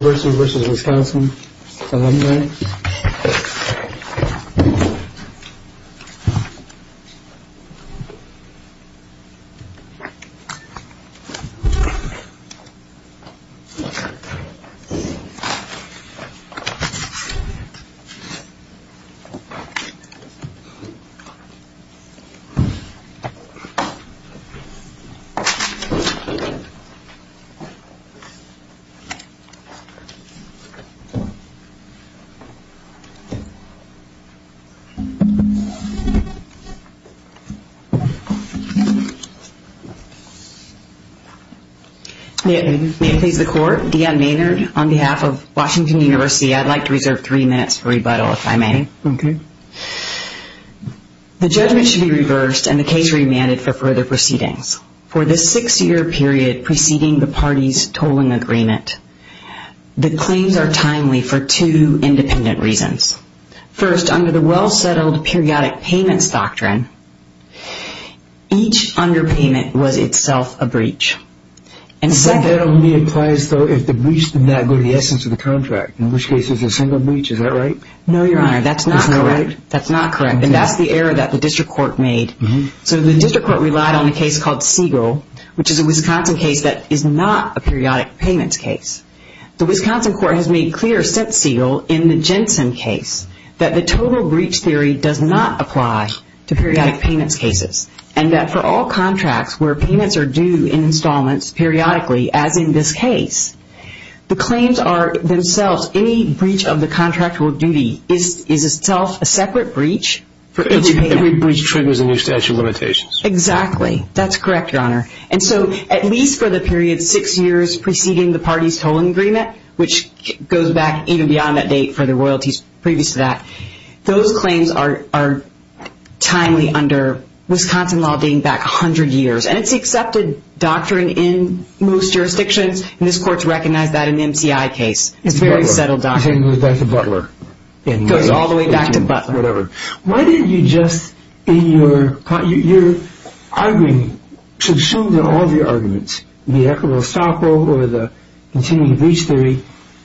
University v. Wisconsin Alumni Deanne Maynard on behalf of Washington University I'd like to reserve three minutes for rebuttal if I may. The judgment should be reversed and the case remanded for further proceedings. For this six year period preceding the parties tolling agreement, the claims are timely for two independent reasons. First, under the well settled periodic payments doctrine, each underpayment was itself a breach. That only applies if the breach did not go to the essence of the contract, in which case it's a single breach, is that right? No, your honor, that's not correct. And that's the error that the district court made. So the district court relied on a case called Siegel, which is a Wisconsin case that is not a periodic payments case. The Wisconsin court has made clear, since Siegel, in the Jensen case, that the total breach theory does not apply to periodic payments cases. And that for all contracts where payments are due in installments periodically, as in this case, the claims are themselves any breach of the contractual duty is itself a separate breach. Every breach triggers a new statute of limitations. Exactly. That's correct, your honor. And so at least for the period six years preceding the parties tolling agreement, which goes back even beyond that date for the royalties previous to that, those claims are timely under Wisconsin law being back a hundred years. And it's accepted doctrine in most jurisdictions. And this court's recognized that in the MCI case. It's very settled doctrine. It goes back to Butler. It goes all the way back to Butler. Your arguing should show that all of your arguments, the equitable estoppel or the continuing breach theory,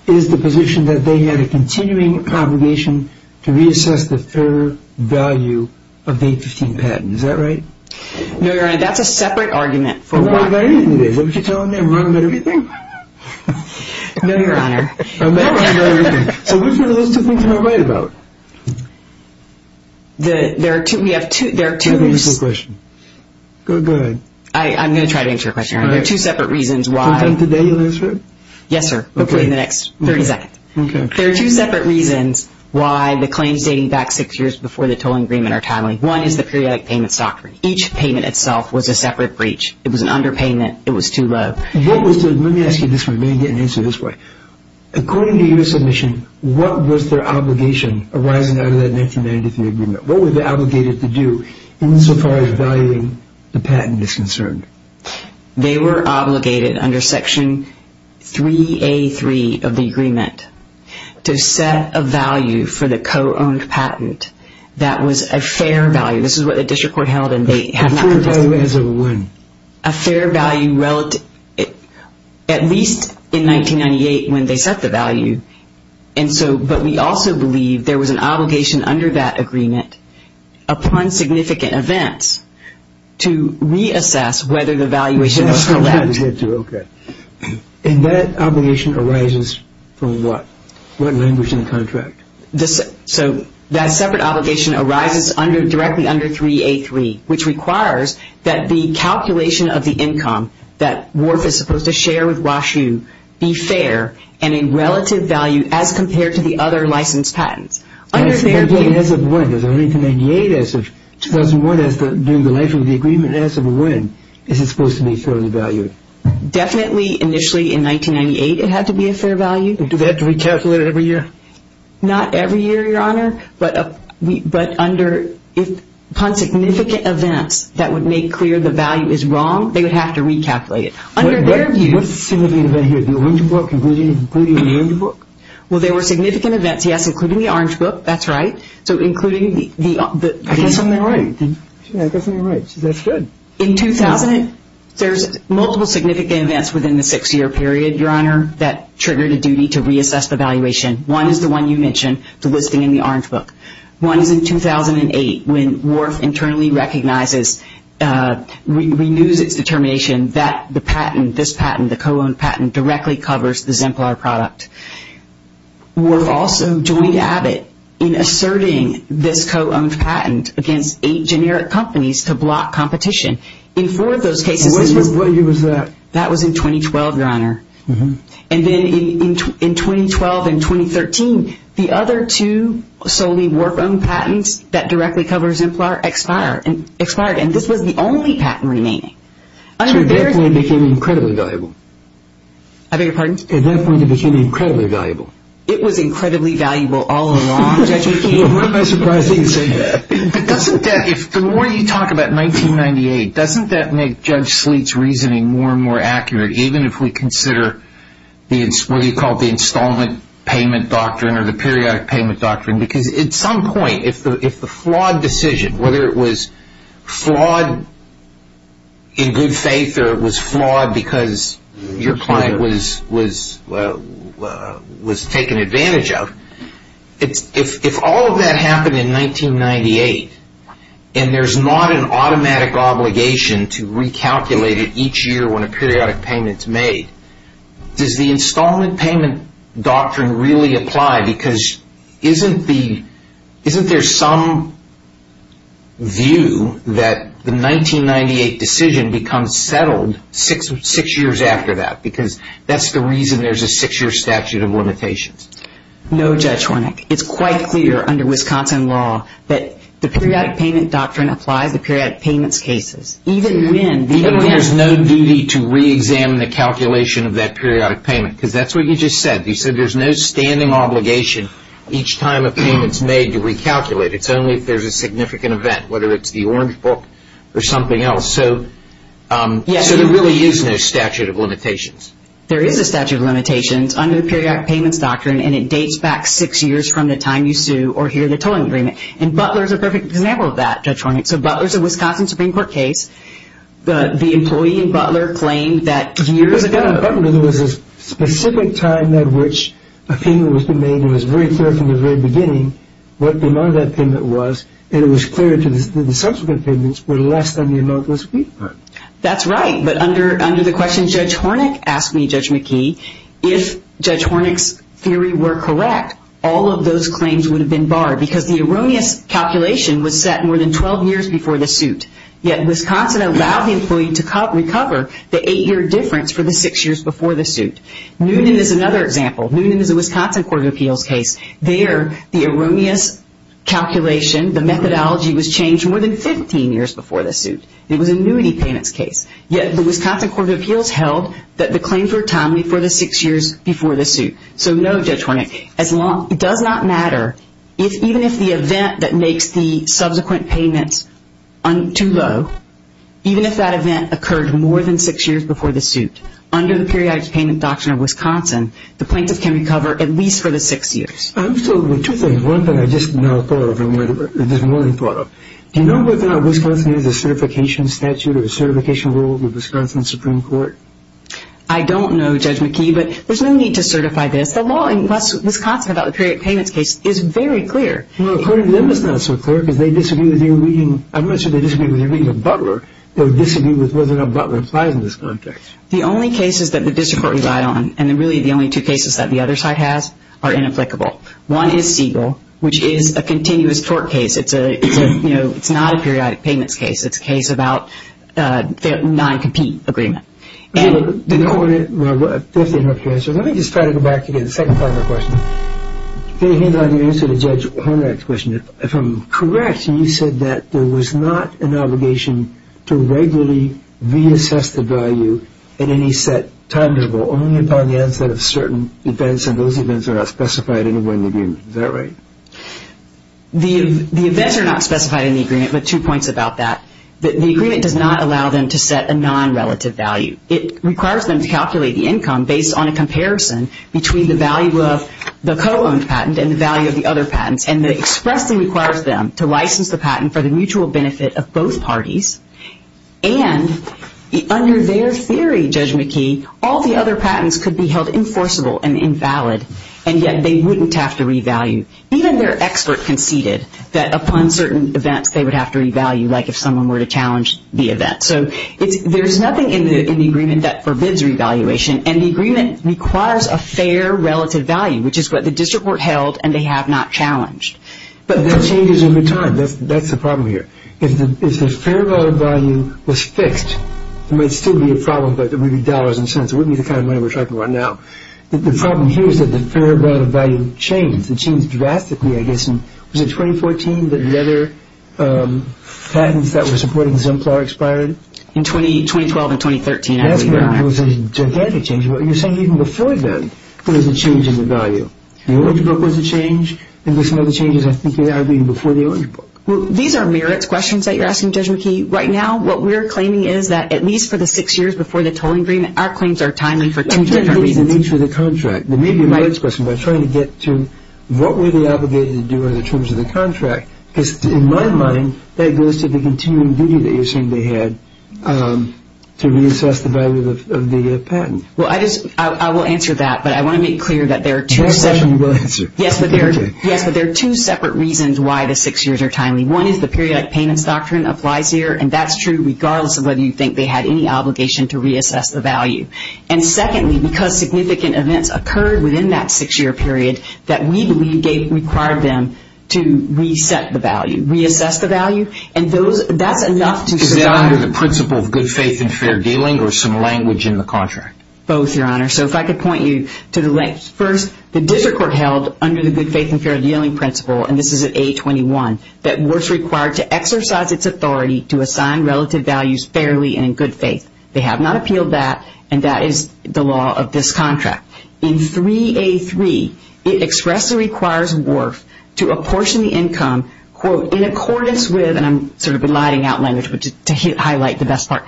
is the position that they had a continuing congregation to reassess the fair value of the 15 patents. Is that right? No, your honor. That's a separate argument for why. I don't know about anything. Is that what you're telling me? I'm wrong about everything? No, your honor. I'm wrong about everything. So which one of those two things am I right about? I'm going to try to answer your question, your honor. There are two separate reasons why. Can I answer it today? Yes, sir. Hopefully in the next 30 seconds. There are two separate reasons why the claims dating back six years before the tolling agreement are timely. One is the periodic payments doctrine. Each payment itself was a separate breach. It was an underpayment. It was too low. Let me ask you this one. Let me ask you this one. What was their obligation arising out of that 1993 agreement? What were they obligated to do insofar as valuing the patent is concerned? They were obligated under section 3A3 of the agreement to set a value for the co-owned patent that was a fair value. This is what the district court held. A fair value as of when? A fair value at least in that case. We also believe there was an obligation under that agreement upon significant events to reassess whether the valuation was correct. And that obligation arises from what? What language in the contract? That separate obligation arises directly under 3A3, which requires that the calculation of the income that Wharfe is supposed to share with Wash U be fair and a relative value as compared to the other licensed patents. As of when? As of 1998? As of 2001? During the life of the agreement? As of when is it supposed to be fairly valued? Definitely initially in 1998 it had to be a fair value. Do they have to recalculate it every year? Not every year, Your Honor. But under upon significant events that would make clear the value is wrong, they would have to recalculate it. Under their views there were significant events, yes, including the Orange Book, that's right. In 2000, there were multiple significant events within the six year period, Your Honor, that triggered a duty to reassess the valuation. One is the one you mentioned, the listing in the Orange Book. One is in 2008 when Wharfe internally recognizes, renews its determination that the patent, this patent, the co-owned patent, directly covers the Zimplar product. Wharfe also joined Abbott in asserting this co-owned patent against eight generic companies to block competition. In four of those cases... And when was that? That was in 2012, Your Honor. And then in 2012 and 2013, the other two solely Wharfe-owned patents that directly covers Zimplar expired. And this was the only patent remaining. So at that point it became incredibly valuable? I beg your pardon? At that point it became incredibly valuable? It was incredibly valuable all along, Judge McKeon. Well, what am I surprised that you say that? But doesn't that, the more you talk about 1998, doesn't that make Judge Sleet's reasoning more and more accurate even if we consider what you call the installment payment doctrine or the periodic payment doctrine? Because at some point, if the flawed decision, whether it was flawed in good faith or it was flawed because your client was taken advantage of, if all of that happened in 1998 and there's not an automatic obligation to recalculate it each year when a periodic payment is made, does the installment payment doctrine really apply? Because isn't there some view that the 1998 decision becomes settled six years after that because that's the reason there's a six-year statute of limitations? No, Judge Hornick. It's quite clear under Wisconsin law that the periodic payment doctrine applies to periodic payments cases. Even when there's no duty to re-examine the calculation of that periodic payment because that's what you just said. You said there's no standing obligation each time a payment's made to recalculate. It's only if there's a significant event, whether it's the Orange Book or something else. So there really is no statute of limitations. There is a statute of limitations under the periodic payments doctrine and it dates back six years from the time you sue or hear the tolling agreement. And Butler's a perfect example of that, Judge Hornick. So Butler's a Wisconsin Supreme Court case. The employee in Butler claimed that years ago. But in Butler there was a specific time at which a payment was made and it was very clear from the very beginning what the amount of that payment was and it was clear to the subsequent payments were less than the amount was paid for. That's right. But under the question Judge Hornick asked me, Judge McKee, if Judge Hornick's theory were correct, all of those claims would have been barred because the erroneous calculation was set more than 12 years before the suit. Yet Wisconsin allowed the employee to recover the eight-year difference for the six years before the suit. Newnan is another example. Newnan is a Wisconsin Court of Appeals case. There the erroneous calculation, the methodology was changed more than 15 years before the suit. It was a annuity payments case. Yet the Wisconsin Court of Appeals held that the claims were timely for the six years before the suit. So no, Judge Hornick, it does not matter even if the event that makes the subsequent payments too low, even if that event occurred more than six years before the suit, under the periodic payment doctrine of Wisconsin, the plaintiff can recover at least for the six years. Absolutely. Two things. One thing I just now thought of, I just more than thought of. Do you know whether Wisconsin has a certification statute or a certification rule with Wisconsin Supreme Court? I don't know, Judge McKee, but there's no need to certify this. The law in Wisconsin about the periodic payments case is very clear. Well, according to them it's not so clear because they disagree with your reading. I mentioned they disagree with your reading of Butler. They disagree with whether or not Butler applies in this context. The only cases that the district court relied on, and really the only two cases that the other side has, are inapplicable. One is Siegel, which is a continuous tort case. It's a, you know, it's not a periodic payments case. It's a case about a non-compete agreement. Well, if they don't want to answer, let me just try to go back to the second part of my question. Can you hand on your answer to Judge Hornak's question? If I'm correct, you said that there was not an obligation to regularly reassess the value at any set time interval, only upon the onset of certain events, and those events are not specified in the agreement. Is that right? The events are not specified in the agreement, but two points about that. The agreement does not allow them to set a non-relative value. It requires them to calculate the income based on a comparison between the value of the co-owned patent and the value of the other patents, and it expressly requires them to license the patent for the mutual benefit of both parties, and under their theory, Judge McKee, all the other patents could be held enforceable and invalid, and yet they wouldn't have to revalue. Even their expert conceded that upon certain events they would have to revalue, like if someone were to challenge the event. So it's, there's nothing in the agreement that forbids revaluation, and the agreement requires a fair relative value, which is what the district were held, and they have not challenged. But that changes over time. That's the problem here. If the fair value was fixed, it might still be a problem, but it would be dollars and cents. It wouldn't be the kind of money we're talking about now. The problem here is that the fair value changed. It changed drastically, I guess in, was it 2014, that the other patents that were supporting Zemplar expired? In 2012 and 2013, I believe. It was a gigantic change. You're saying even before then, there was a change in the value. The orange book was a change, and there's some other changes I think that I read before the orange book. Well, these are merits questions that you're asking, Judge McKee. Right now, what we're claiming is that at least for the six years before the tolling agreement, our claims are timely for ten different reasons. That's the nature of the contract. The merits question, we're trying to get to what were they obligated to do under the terms of the contract, because in my mind, that goes to the continuing duty that you're saying they had to reassess the value of the patent. Well, I will answer that, but I want to make clear that there are two separate reasons why the six years are timely. One is the periodic payments doctrine applies here, and that's true regardless of whether you think they had any obligation to reassess the value. Secondly, because significant events occurred within that six-year period that we believe required them to reset the value, reassess the value, and that's enough to survive. Is that under the principle of good faith and fair dealing, or some language in the contract? Both, Your Honor. So if I could point you to the length. First, the district court held under the good faith and fair dealing principle, and this is at A21, that works required to exercise its authority to assign relative values fairly and in good faith. They have not appealed that, and that is the law of this contract. In 3A3, it expressly requires WRF to apportion the income, quote, in accordance with, and I'm sort of eliding out language to highlight the best part,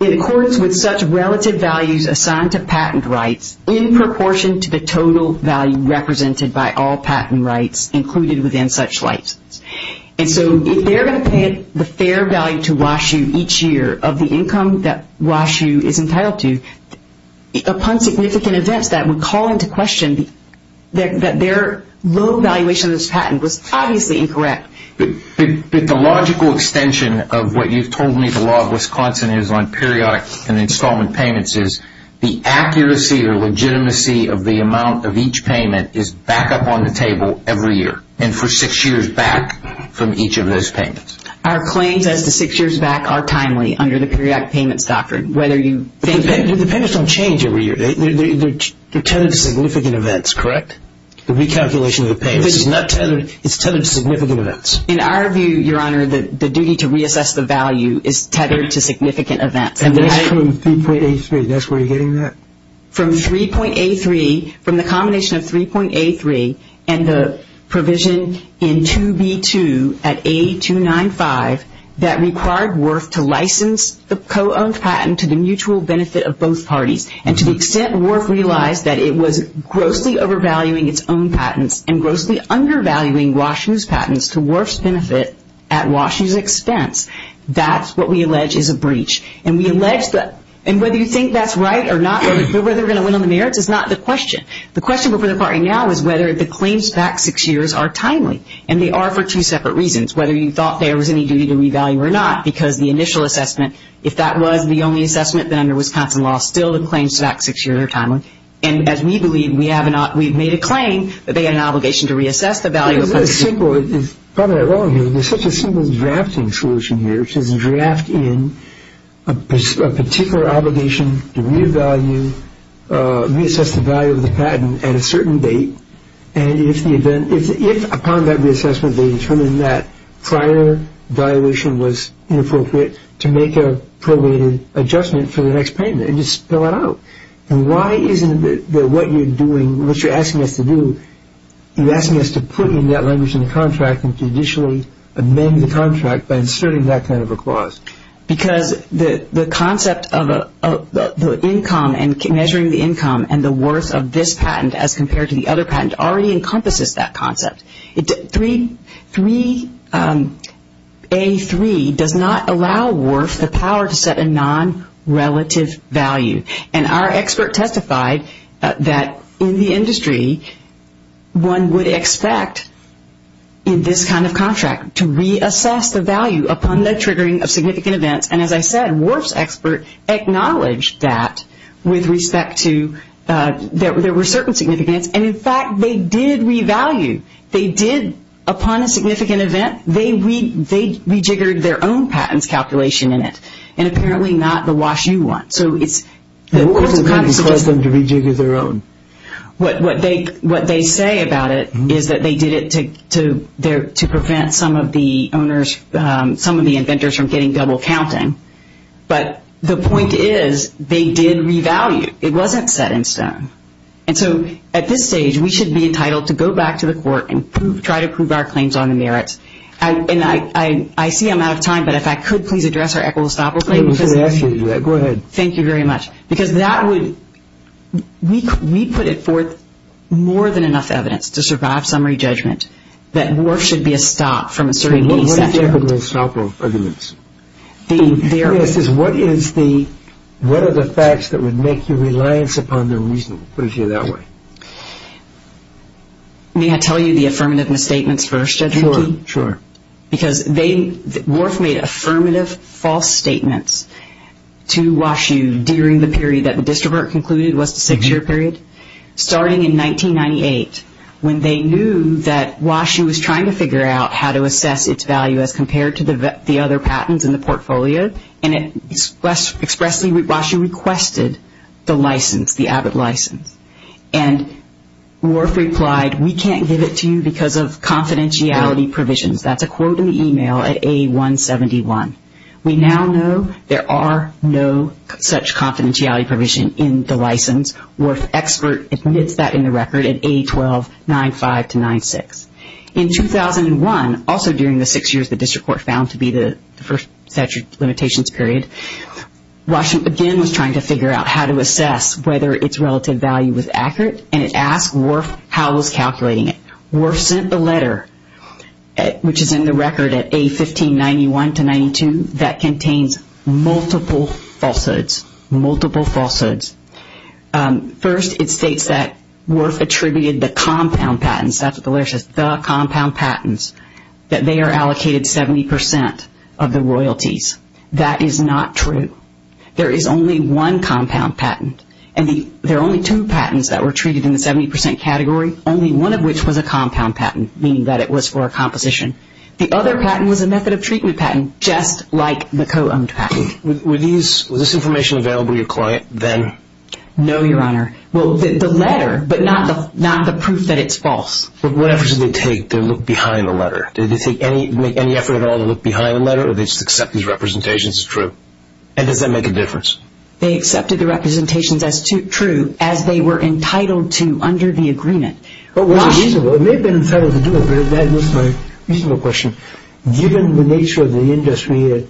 in accordance with such relative values assigned to patent rights in proportion to the total value represented by all patent rights included within such licenses. And so if they're going to pay the fair value to WashU each year of the income that WashU is entitled to, upon significant events that would call into question that their low valuation of this patent was obviously incorrect. But the logical extension of what you've told me the law of Wisconsin is on periodic and installment payments is the accuracy or legitimacy of the amount of each payment is back up on the table every year, and for six years back from each of those payments. Our claims as to six years back are timely under the periodic payments doctrine, whether you think... The payments don't change every year. They're tethered to significant events, correct? The recalculation of the payments is not tethered, it's tethered to significant events. In our view, your honor, the duty to reassess the value is tethered to significant events. And that's from 3.83, that's where you're getting that? From 3.83, from the combination of 3.83 and the provision in 2B2 at A295 that required WRF to license the co-owned patent to the mutual benefit of both parties. And to the extent WRF realized that it was grossly overvaluing its own patents and grossly undervaluing WashU's patents to WRF's benefit at WashU's expense, that's what we allege is a breach. And we allege that... And whether you think that's right or not, whether they're going to win on the merits is not the question. The question for the party now is whether the claims back six years are timely. And they are for two separate reasons. Whether you thought there was any duty to revalue or not, because the initial assessment, if that was the only assessment, then under Wisconsin law, still the claims back six years are timely. And as we believe, we have not... We've made a claim that they had an obligation to reassess the value of... It's really simple. Probably wrong here. There's such a simple drafting solution here, which is draft in a particular obligation to revalue, reassess the value of the patent at a certain date. And if the event... If upon that reassessment, they determine that prior valuation was inappropriate, to make a prorated adjustment for the next payment and just spill it out. And why isn't it that what you're doing, what you're asking us to do, you're asking us to put in that language in the contract and to initially amend the contract by inserting that kind of a clause? Because the concept of the income and measuring the income and the worth of this patent as compared to the other patent already encompasses that concept. 3A.3 does not allow WORF the power to set a non-relative value. And our expert testified that in the industry, one would expect in this kind of contract to reassess the value upon the triggering of significant events. And as I said, WORF's expert acknowledged that with respect to... There were certain significance. And in fact, they did revalue. They did... Upon a significant event, they rejiggered their own patents calculation in it. And apparently not the Wash U one. So it's... Rejiggered their own. What they say about it is that they did it to prevent some of the owners, some of the inventors from getting double counting. But the point is they did revalue. It wasn't set in stone. And so at this stage, we should be entitled to go back to the court and try to prove our claims on the merits. And I see I'm out of time. But if I could please address our Equal Estoppel claim. Go ahead. Thank you very much. Because that would... We put it forth more than enough evidence to survive summary judgment that WORF should be a stop from asserting... What is the Equal Estoppel arguments? The... What is the... What are the facts that would make you reliance upon their reasoning? Put it to you that way. May I tell you the affirmative misstatements first? Sure. Sure. Because they... WORF made affirmative false statements to WashU during the period that the distrovert concluded was the six-year period. Starting in 1998, when they knew that WashU was trying to figure out how to assess its value as compared to the other patents in the portfolio. And it expressly... WashU requested the license, the Abbott license. And WORF replied, we can't give it to you because of confidentiality provisions. That's a quote in the email at A-171. We now know there are no such confidentiality provision in the license. WORF expert admits that in the record at A-1295 to 96. In 2001, also during the six years the district court found to be the first statute limitations period, WashU again was trying to figure out how to assess whether its relative value was accurate. And it asked WORF how it was calculating it. WORF sent a letter, which is in the record at A-1591 to 92, that contains multiple falsehoods. Multiple falsehoods. First, it states that WORF attributed the compound patents, that's what the letter says, the compound patents, that they are allocated 70% of the royalties. That is not true. There is only one compound patent. And there are only two patents that were treated in the 70% category, only one of which was a compound patent, meaning that it was for a composition. The other patent was a method of treatment patent, just like the co-owned patent. Was this information available to your client then? No, Your Honor. Well, the letter, but not the proof that it's false. What efforts did they take to look behind the letter? Did they make any effort at all to look behind the letter, or they just accept these representations as true? And does that make a difference? They accepted the representations as true, as they were entitled to under the agreement. It may have been entitled to do it, but that is a reasonable question. Given the nature of the industry,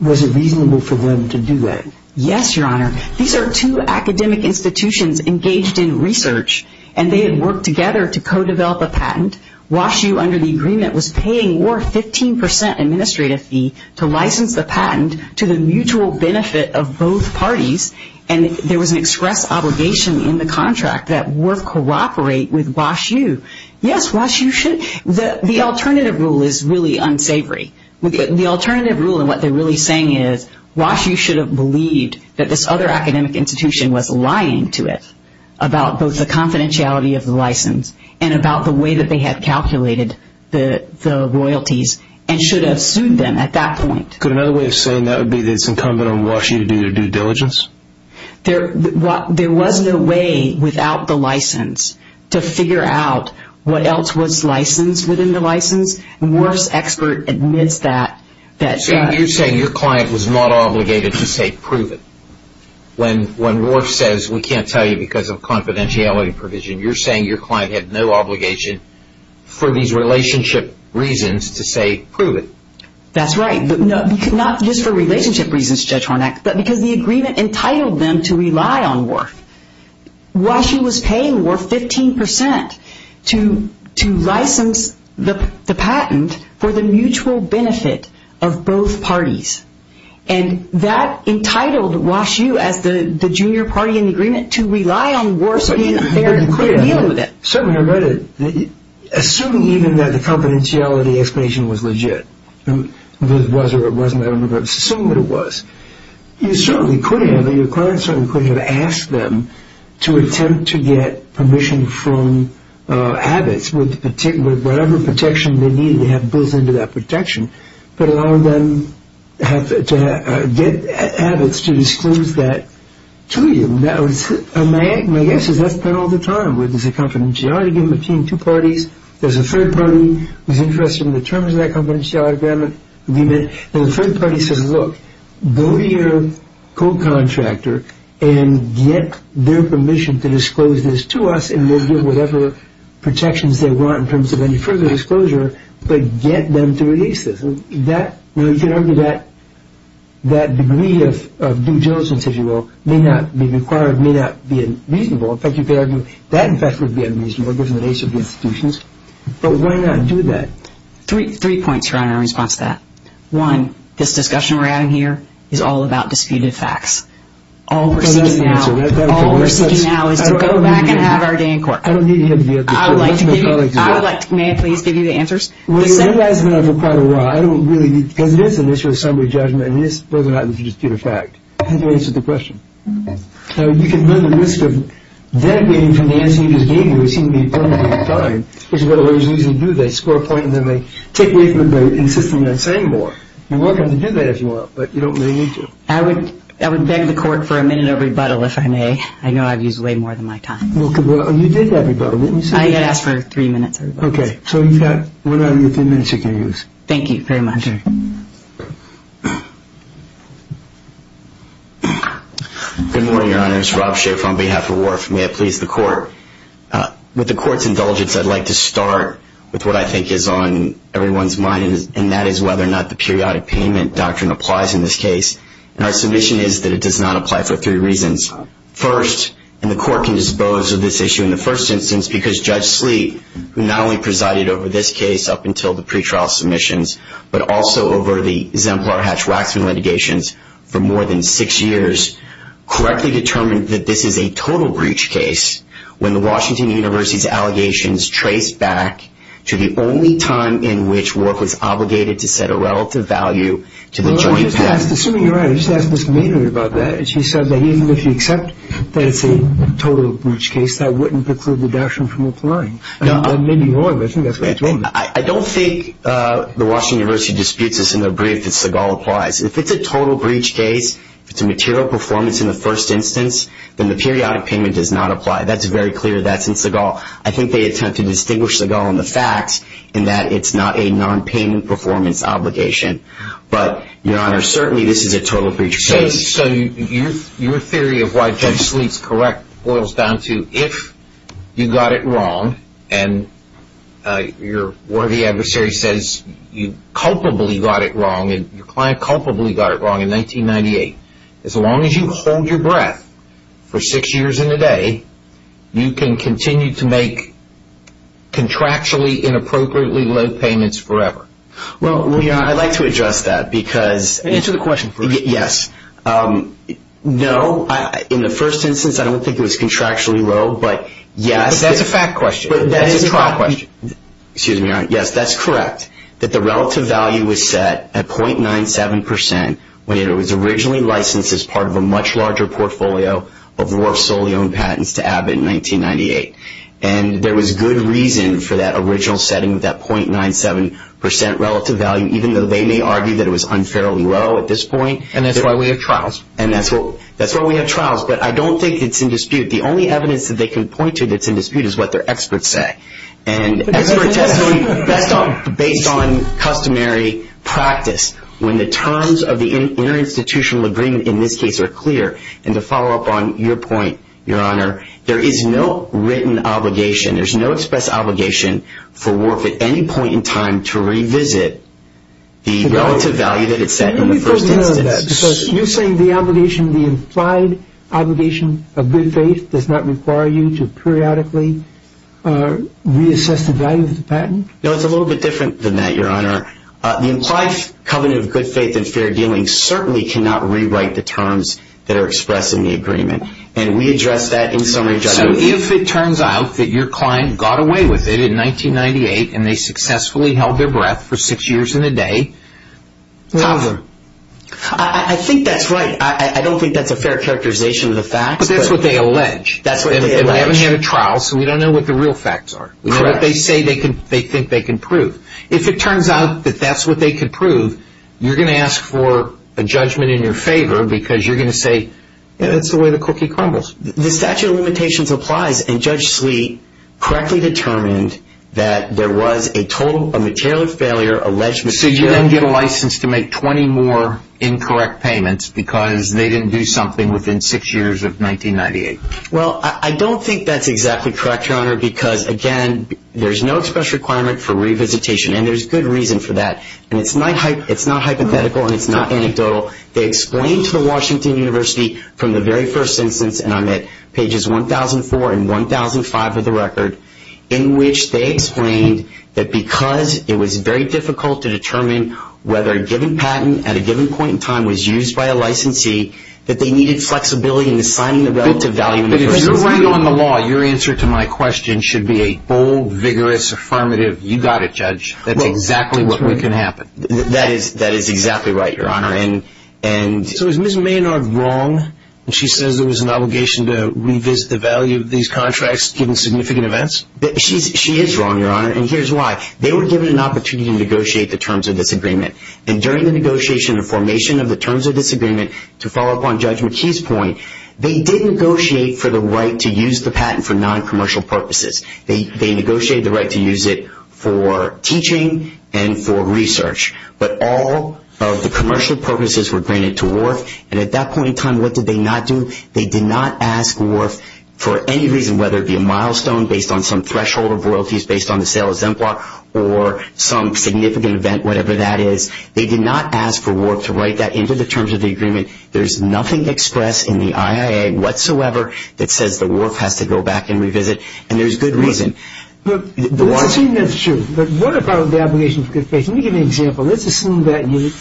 was it reasonable for them to do that? Yes, Your Honor. These are two academic institutions engaged in research, and they had worked together to co-develop a patent. Wash U, under the agreement, was paying WORF 15% administrative fee to license the patent to the mutual benefit of both parties, and there was an express obligation in the contract that WORF cooperate with Wash U. Yes, Wash U should. The alternative rule is really unsavory. The alternative rule, and what they're really saying is, Wash U should have believed that this other academic institution was lying to it about both the confidentiality of the license, and about the way that they had calculated the royalties, and should have sued them at that point. Could another way of saying that would be that it's incumbent on Wash U to do their due diligence? There was no way without the license to figure out what else was licensed within the license, and WORF's expert admits that. You're saying your client was not obligated to say, prove it. When WORF says, we can't tell you because of confidentiality provision, you're saying your client had no obligation for these relationship reasons to say, prove it. That's right. Not just for relationship reasons, Judge Hornac, but because the agreement entitled them to rely on WORF. Wash U was paying WORF 15% to license the patent for the mutual benefit of both parties, and that entitled Wash U, as the junior party in the agreement, to rely on WORF being there and dealing with it. Certainly, I read it. Assuming even that the confidentiality explanation was legit, whether it was or it wasn't, I don't remember. Assuming that it was, you certainly could have, your client certainly could have asked them to attempt to get permission from Abbott's with whatever protection they needed to have built into that protection, but allow them to get Abbott's to disclose that to you. My guess is that's been all the time. There's a confidentiality agreement between two parties. There's a third party who's interested in the terms of that confidentiality agreement, and the third party says, look, go to your co-contractor and get their permission to disclose this to us, and they'll give whatever protections they want in terms of any further disclosure, but get them to release this. You could argue that that degree of due diligence, if you will, may not be required, may not be reasonable. That, in fact, would be unreasonable given the nature of the institutions, but why not do that? Three points around our response to that. One, this discussion we're having here is all about disputed facts. All we're seeking now is to go back and have our day in court. I don't need to hear the answer. I would like to give you, may I please give you the answers? Well, you guys have been on for quite a while. I don't really, because it is an issue of summary judgment, and it is whether or not it's a disputed fact. How do you answer the question? So you can run the risk of dedicating from the answer you just gave me, which seemed to be unworthy of time, which is what lawyers usually do. They score a point, and then they take away from it by insisting on saying more. You're welcome to do that if you want, but you don't really need to. I would beg the court for a minute of rebuttal, if I may. I know I've used way more than my time. Well, you did have rebuttal, didn't you say? I had asked for three minutes of rebuttal. Okay, so you've got one out of your three minutes you can use. Thank you very much. Good morning, Your Honors. Rob Schaeff on behalf of WARF. May I please the court? With the court's indulgence, I'd like to start with what I think is on everyone's mind, and that is whether or not the periodic payment doctrine applies in this case. And our submission is that it does not apply for three reasons. First, and the court can dispose of this issue in the first instance, because Judge Sleet, who not only presided over this case up until the pretrial submissions, but also over the Zemplar-Hatch-Waxman litigations for more than six years, correctly determined that this is a total breach case when the Washington University's allegations trace back to the only time in which WARF was obligated to set a relative value to the joint patent. Assuming you're right, I just asked Ms. Maynard about that, and she said that even if you accept that it's a total breach case, that wouldn't preclude the doctrine from applying. And maybe you are, but I think that's what you told me. I don't think the Washington University disputes this in their brief that Seagal applies. If it's a total breach case, if it's a material performance in the first instance, then the periodic payment does not apply. That's very clear. That's in Seagal. I think they attempt to distinguish Seagal in the facts, in that it's not a non-payment performance obligation. But, Your Honor, certainly this is a total breach case. So your theory of why Judge Sleet's correct boils down to if you got it wrong, and your worthy adversary says you culpably got it wrong, and your client culpably got it wrong in 1998, as long as you hold your breath for six years and a day, you can continue to make contractually inappropriately low payments forever. Well, Your Honor, I'd like to address that because... Answer the question first. Yes. No. In the first instance, I don't think it was contractually low, but yes... But that's a fact question. But that is a fact question. Excuse me, Your Honor. Yes, that's correct, that the relative value was set at 0.97% when it was originally licensed as part of a much larger portfolio of Rorf Soleon patents to Abbott in 1998. And there was good reason for that original setting of that 0.97% relative value, even though they may argue that it was unfairly low at this point. And that's why we have trials. And that's why we have trials. But I don't think it's in dispute. The only evidence that they can point to that's in dispute is what their experts say. And expert testimony based on customary practice, when the terms of the interinstitutional agreement in this case are clear. And to follow up on your point, Your Honor, there is no written obligation, there's no express obligation for Rorf at any point in time to revisit the relative value that it set in the first instance. Let me put an end to that, because you're saying the obligation, the implied obligation of good faith does not require you to periodically reassess the value of the patent? No, it's a little bit different than that, Your Honor. The implied covenant of good faith and fair dealing certainly cannot rewrite the terms that are expressed in the agreement. And we address that in summary judgment. If it turns out that your client got away with it in 1998 and they successfully held their breath for six years and a day, top of the line. I think that's right. I don't think that's a fair characterization of the facts. But that's what they allege. That's what they allege. And we haven't had a trial, so we don't know what the real facts are, what they say they think they can prove. If it turns out that that's what they can prove, you're going to ask for a judgment in your favor, because you're going to say, yeah, that's the way the cookie crumbles. The statute of limitations applies. And Judge Sweet correctly determined that there was a total, a material failure, alleged material failure. So you didn't get a license to make 20 more incorrect payments because they didn't do something within six years of 1998? Well, I don't think that's exactly correct, Your Honor, because again, there's no express requirement for revisitation. And there's good reason for that. And it's not hypothetical and it's not anecdotal. They explained to the Washington University from the very first instance, and I'm at pages 1,004 and 1,005 of the record, in which they explained that because it was very difficult to determine whether a given patent at a given point in time was used by a licensee, that they needed flexibility in assigning the relative value. But if you're weighing on the law, your answer to my question should be a bold, vigorous, affirmative, you got it, Judge. That's exactly what can happen. That is exactly right, Your Honor. And so is Ms. Maynard wrong when she says there was an obligation to revisit the value of these contracts given significant events? She is wrong, Your Honor, and here's why. They were given an opportunity to negotiate the terms of this agreement. And during the negotiation and formation of the terms of this agreement, to follow up on Judge McKee's point, they did negotiate for the right to use the patent for noncommercial purposes. They negotiated the right to use it for teaching and for research. But all of the commercial purposes were granted to Wharf. And at that point in time, what did they not do? They did not ask Wharf for any reason, whether it be a milestone based on some threshold of royalties based on the sale of Zempla or some significant event, whatever that is. They did not ask for Wharf to write that into the terms of the agreement. There's nothing expressed in the IIA whatsoever that says the Wharf has to go back and revisit. And there's good reason. Well, it seems that's true. But what about the obligation for good faith? Can you give me an example? Let's assume that the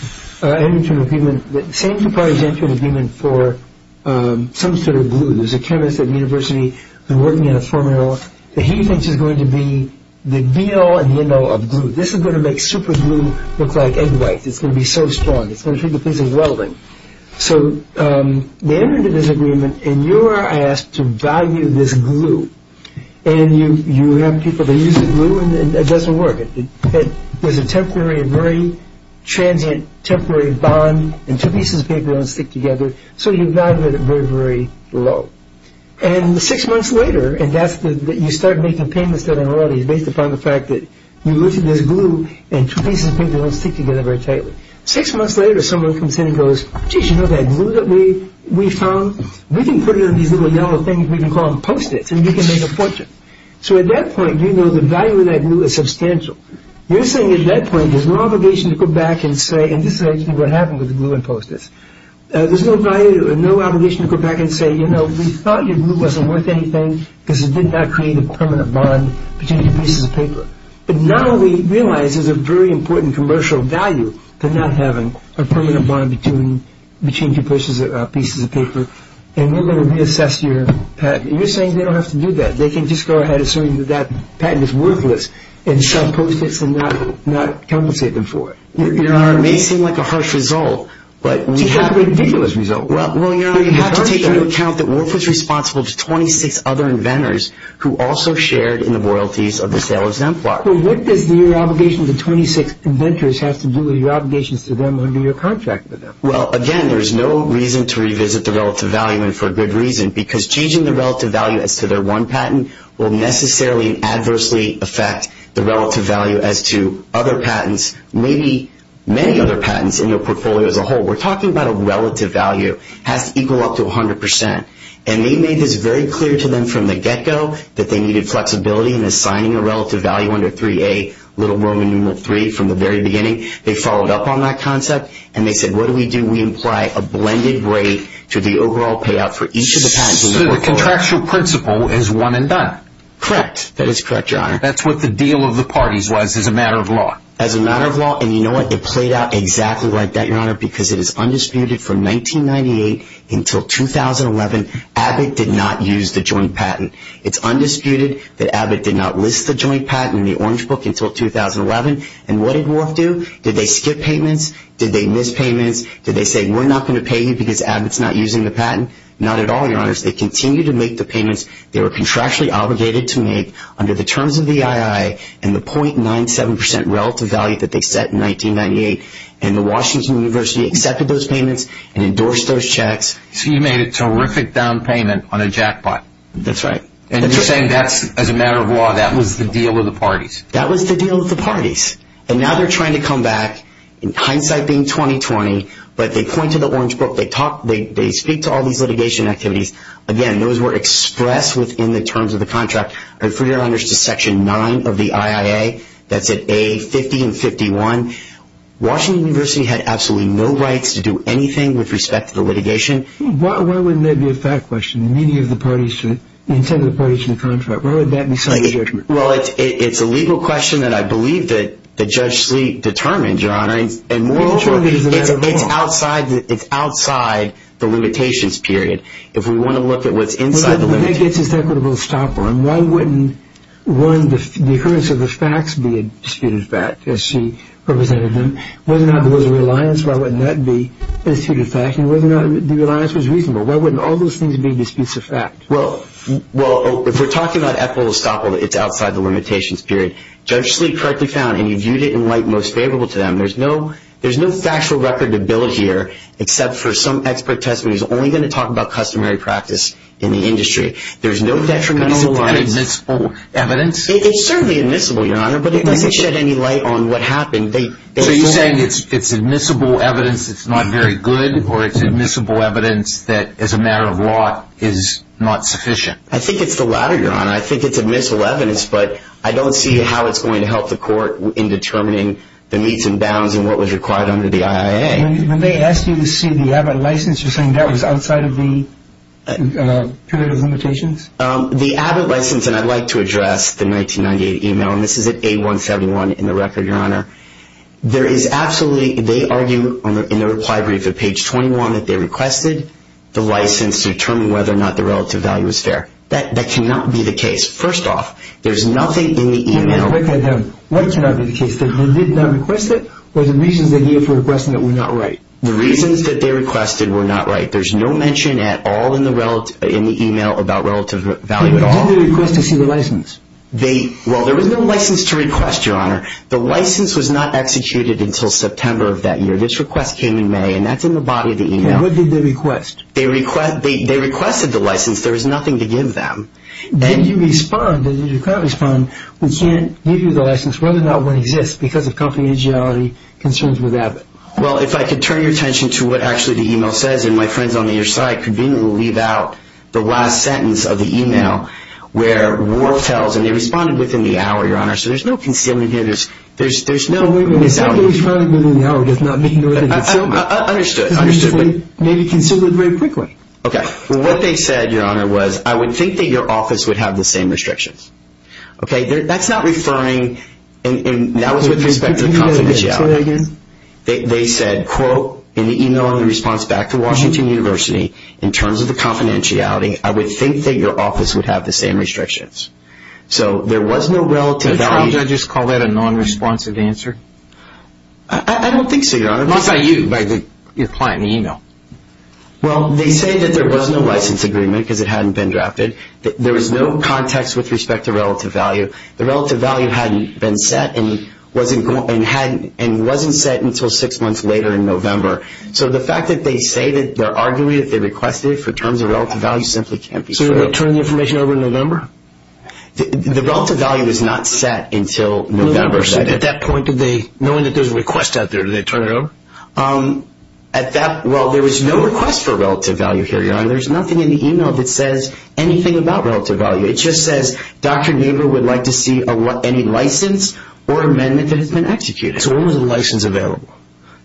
same two parties entered an agreement for some sort of glue. There's a chemist at the university who's working on a formula that he thinks is going to be the be-all and the end-all of glue. This is going to make super glue look like egg whites. It's going to be so strong. It's going to treat the piece as welding. So they entered into this agreement, and you are asked to value this glue. And you have people that use the glue, and it doesn't work. There's a temporary and very transient temporary bond, and two pieces of paper don't stick together. So you value it at very, very low. And six months later, and that's when you start making payments to the authorities based upon the fact that you lifted this glue, and two pieces of paper don't stick together very tightly. Six months later, someone comes in and goes, gee, you know that glue that we found? We can put it in these little yellow things. We can call them Post-its, and you can make a fortune. So at that point, you know the value of that glue is substantial. You're saying at that point there's no obligation to go back and say, and this is actually what happened with the glue and Post-its. There's no value, no obligation to go back and say, you know, we thought your glue wasn't worth anything because it did not create a permanent bond between two pieces of paper. But now we realize there's a very important commercial value to not having a permanent bond between two pieces of paper. And we're going to reassess your patent. You're saying they don't have to do that. They can just go ahead assuming that that patent is worthless and sell Post-its and not compensate them for it. Your Honor, it may seem like a harsh result, but when you have to take into account that Wolf was responsible to 26 other inventors who also shared in the royalties of the sale of Zemplar. Well, what does the obligation to 26 inventors have to do with your obligations to them under your contract with them? Well, again, there's no reason to revisit the relative value, and for good reason, because changing the relative value as to their one patent will necessarily adversely affect the relative value as to other patents, maybe many other patents in your portfolio as a whole. We're talking about a relative value has to equal up to 100%. And they made this very clear to them from the get-go that they needed flexibility in assigning a relative value under 3A, little Roman numeral 3 from the very beginning. They followed up on that concept, and they said, what do we do? We apply a blended rate to the overall payout for each of the patents in the portfolio. So the contractual principle is one and done. Correct. That is correct, Your Honor. That's what the deal of the parties was as a matter of law. As a matter of law, and you know what? It played out exactly like that, Your Honor, because it is undisputed from 1998 until 2011 Abbott did not use the joint patent. It's undisputed that Abbott did not list the joint patent in the Orange Book until 2011. And what did Wolf do? Did they skip payments? Did they miss payments? Did they say, we're not going to pay you because Abbott's not using the patent? Not at all, Your Honor. They continued to make the payments they were contractually obligated to make under the terms of the II and the 0.97% relative value that they set in 1998. And the Washington University accepted those payments and endorsed those checks. So you made a terrific down payment on a jackpot. That's right. And you're saying that's, as a matter of law, that was the deal with the parties. That was the deal with the parties. And now they're trying to come back, in hindsight being 2020, but they point to the Orange Book. They talk, they speak to all these litigation activities. Again, those were expressed within the terms of the contract. I refer you, Your Honor, to Section 9 of the IIA. That's at A-50 and 51. Washington University had absolutely no rights to do anything with respect to the litigation. Why wouldn't there be a fact question? Many of the parties, the intended parties to the contract, why would that be such a judgment? Well, it's a legal question that I believe that Judge Sleet determined, Your Honor. And more importantly, it's outside the limitations period. If we want to look at what's inside the limitations. Well, that gets us to equitable estoppel. And why wouldn't, one, the occurrence of the facts be a disputed fact, as she represented them? Whether or not there was a reliance, why wouldn't that be a disputed fact? And whether or not the reliance was reasonable. Why wouldn't all those things be disputes of fact? Well, if we're talking about equitable estoppel, it's outside the limitations period. Judge Sleet correctly found, and you viewed it in light most favorable to them. There's no factual record to build here, except for some expert testimony who's only going to talk about customary practice in the industry. There's no detrimental reliance. Is it admissible evidence? It's certainly admissible, Your Honor. But it doesn't shed any light on what happened. So you're saying it's admissible evidence that's not very good, or it's matter of law is not sufficient? I think it's the latter, Your Honor. I think it's admissible evidence, but I don't see how it's going to help the court in determining the meets and bounds and what was required under the IIA. When they asked you to see the Abbott license, you're saying that was outside of the period of limitations? The Abbott license, and I'd like to address the 1998 email, and this is at A171 in the record, Your Honor. There is absolutely, they argue in the reply brief at page 21 that they requested a license to determine whether or not the relative value is fair. That cannot be the case. First off, there's nothing in the email. Let me break that down. What cannot be the case? That he did not request it, or the reasons that he had for requesting it were not right? The reasons that they requested were not right. There's no mention at all in the email about relative value at all. And did they request to see the license? They, well, there was no license to request, Your Honor. The license was not executed until September of that year. This request came in May, and that's in the body of the email. And what did they request? They requested the license. There was nothing to give them. Then you respond, and you can't respond. We can't give you the license, whether or not one exists, because of company agility concerns with Abbott. Well, if I could turn your attention to what actually the email says, and my friends on the other side conveniently leave out the last sentence of the email where Ward tells, and they responded within the hour, Your Honor, so there's no concealment here. There's, there's, there's no... Well, wait a minute. Somebody responded within the hour does not mean there was a concealment. Understood, understood. Maybe concealment very frequently. Okay. What they said, Your Honor, was I would think that your office would have the same restrictions. Okay. That's not referring, and that was with respect to confidentiality. They said, quote, in the email in response back to Washington University, in terms of the confidentiality, I would think that your office would have the same restrictions. So there was no relative... Do trial judges call that a non-responsive answer? I don't think so, Your Honor. What about you, by your client in the email? Well, they say that there was no license agreement because it hadn't been drafted. There was no context with respect to relative value. The relative value hadn't been set, and wasn't going, and hadn't, and wasn't set until six months later in November. So the fact that they say that they're arguing that they requested it for terms of relative value simply can't be true. So they turn the information over in November? The relative value is not set until November. So at that point, did they, knowing that there's a request out there, did they turn it over? Um, at that... Well, there was no request for relative value here, Your Honor. There's nothing in the email that says anything about relative value. It just says, Dr. Naber would like to see any license or amendment that has been executed. So when was the license available?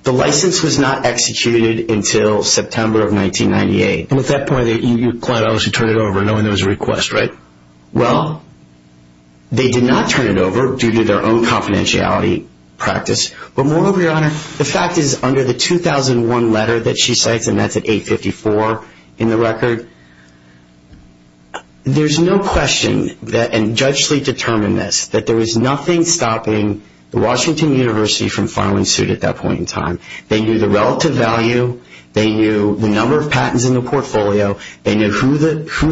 The license was not executed until September of 1998. And at that point, your client obviously turned it over knowing there was a request, right? Well, they did not turn it over due to their own confidentiality practice. But moreover, Your Honor, the fact is under the 2001 letter that she cites, and that's at 854 in the record, there's no question that, and Judge Sleet determined this, that there was nothing stopping the Washington University from filing suit at that point in time. They knew the relative value. They knew the number of patents in the portfolio. They knew who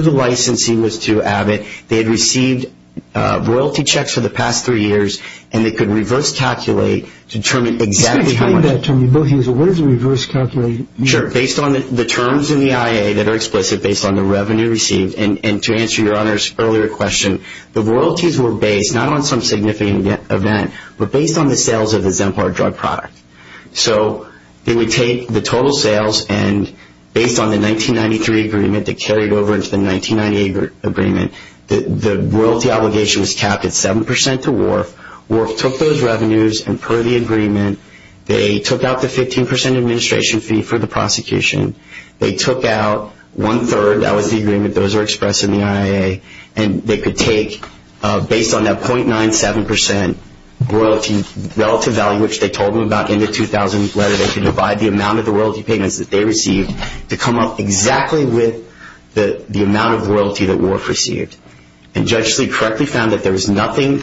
the licensing was to Abbott. They had received royalty checks for the past three years, and they could reverse-calculate to determine exactly how much. Can you explain that to me, Bill Hazel? What does reverse-calculate mean? Sure. Based on the terms in the IA that are explicit based on the revenue received, and to answer Your Honor's earlier question, the royalties were based not on some significant event, but based on the sales of the Zempar drug product. So they would take the total sales, and based on the 1993 agreement that carried over into the 1998 agreement, the royalty obligation was capped at 7% to Wharf. Wharf took those revenues, and per the agreement, they took out the 15% administration fee for the prosecution. They took out one-third. That was the agreement. Those are expressed in the IA. And they could take, based on that 0.97% royalty relative value, which they told them about in the 2000 letter, they could divide the amount of the royalty payments that they received to come up exactly with the amount of royalty that Wharf received. And Judge Lee correctly found that there was nothing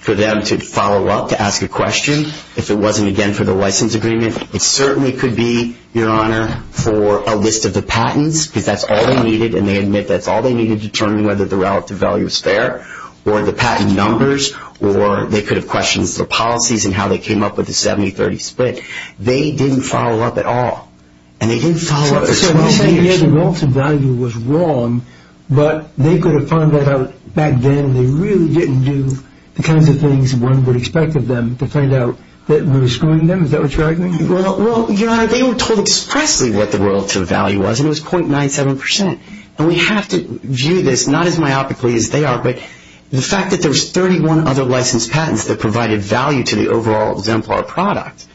for them to follow up to ask a question if it wasn't, again, for the license agreement. It certainly could be, Your Honor, for a list of the patents, because that's all they needed, and they admit that's all they needed to determine whether the relative value was fair, or the patent numbers, or they could have questioned the policies and how they came up with the 70-30 split. They didn't follow up at all. And they didn't follow up for 12 years. So you're saying, yeah, the relative value was wrong, but they could have found that out back then, and they really didn't do the kinds of things one would expect of them to find out that was screwing them? Is that what you're arguing? Well, Your Honor, they were told expressly what the relative value was, and it was 0.97%. And we have to view this, not as myopically as they are, but the fact that there was 31 other licensed patents that provided value to the overall exemplar product.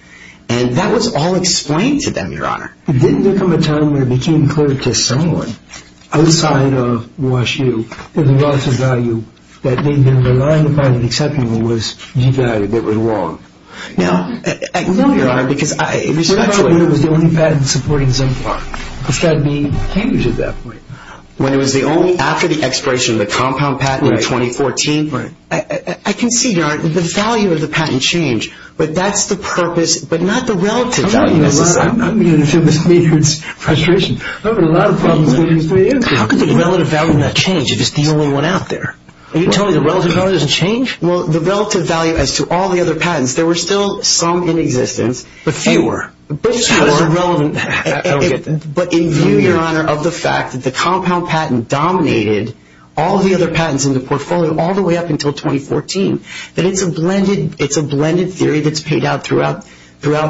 And that was all explained to them, Your Honor. Didn't there come a time where it became clear to someone outside of the issue that the relative value that they'd been relying upon and accepting was devalued, that it was wrong? No, Your Honor, because I respectfully— No, Your Honor, when it was the only patent supporting exemplar. It started being changed at that point. When it was the only, after the expiration of the compound patent in 2014? Right. I can see, Your Honor, the value of the patent change. But that's the purpose, but not the relative value, necessarily. I'm beginning to feel this weird frustration. I've got a lot of problems with these three answers. How could the relative value not change if it's the only one out there? Are you telling me the relative value doesn't change? Well, the relative value as to all the other patents, there were still some in existence— But fewer. But in view, Your Honor, of the fact that the compound patent dominated all the other patents in the portfolio all the way up until 2014, that it's a blended theory that's paid out throughout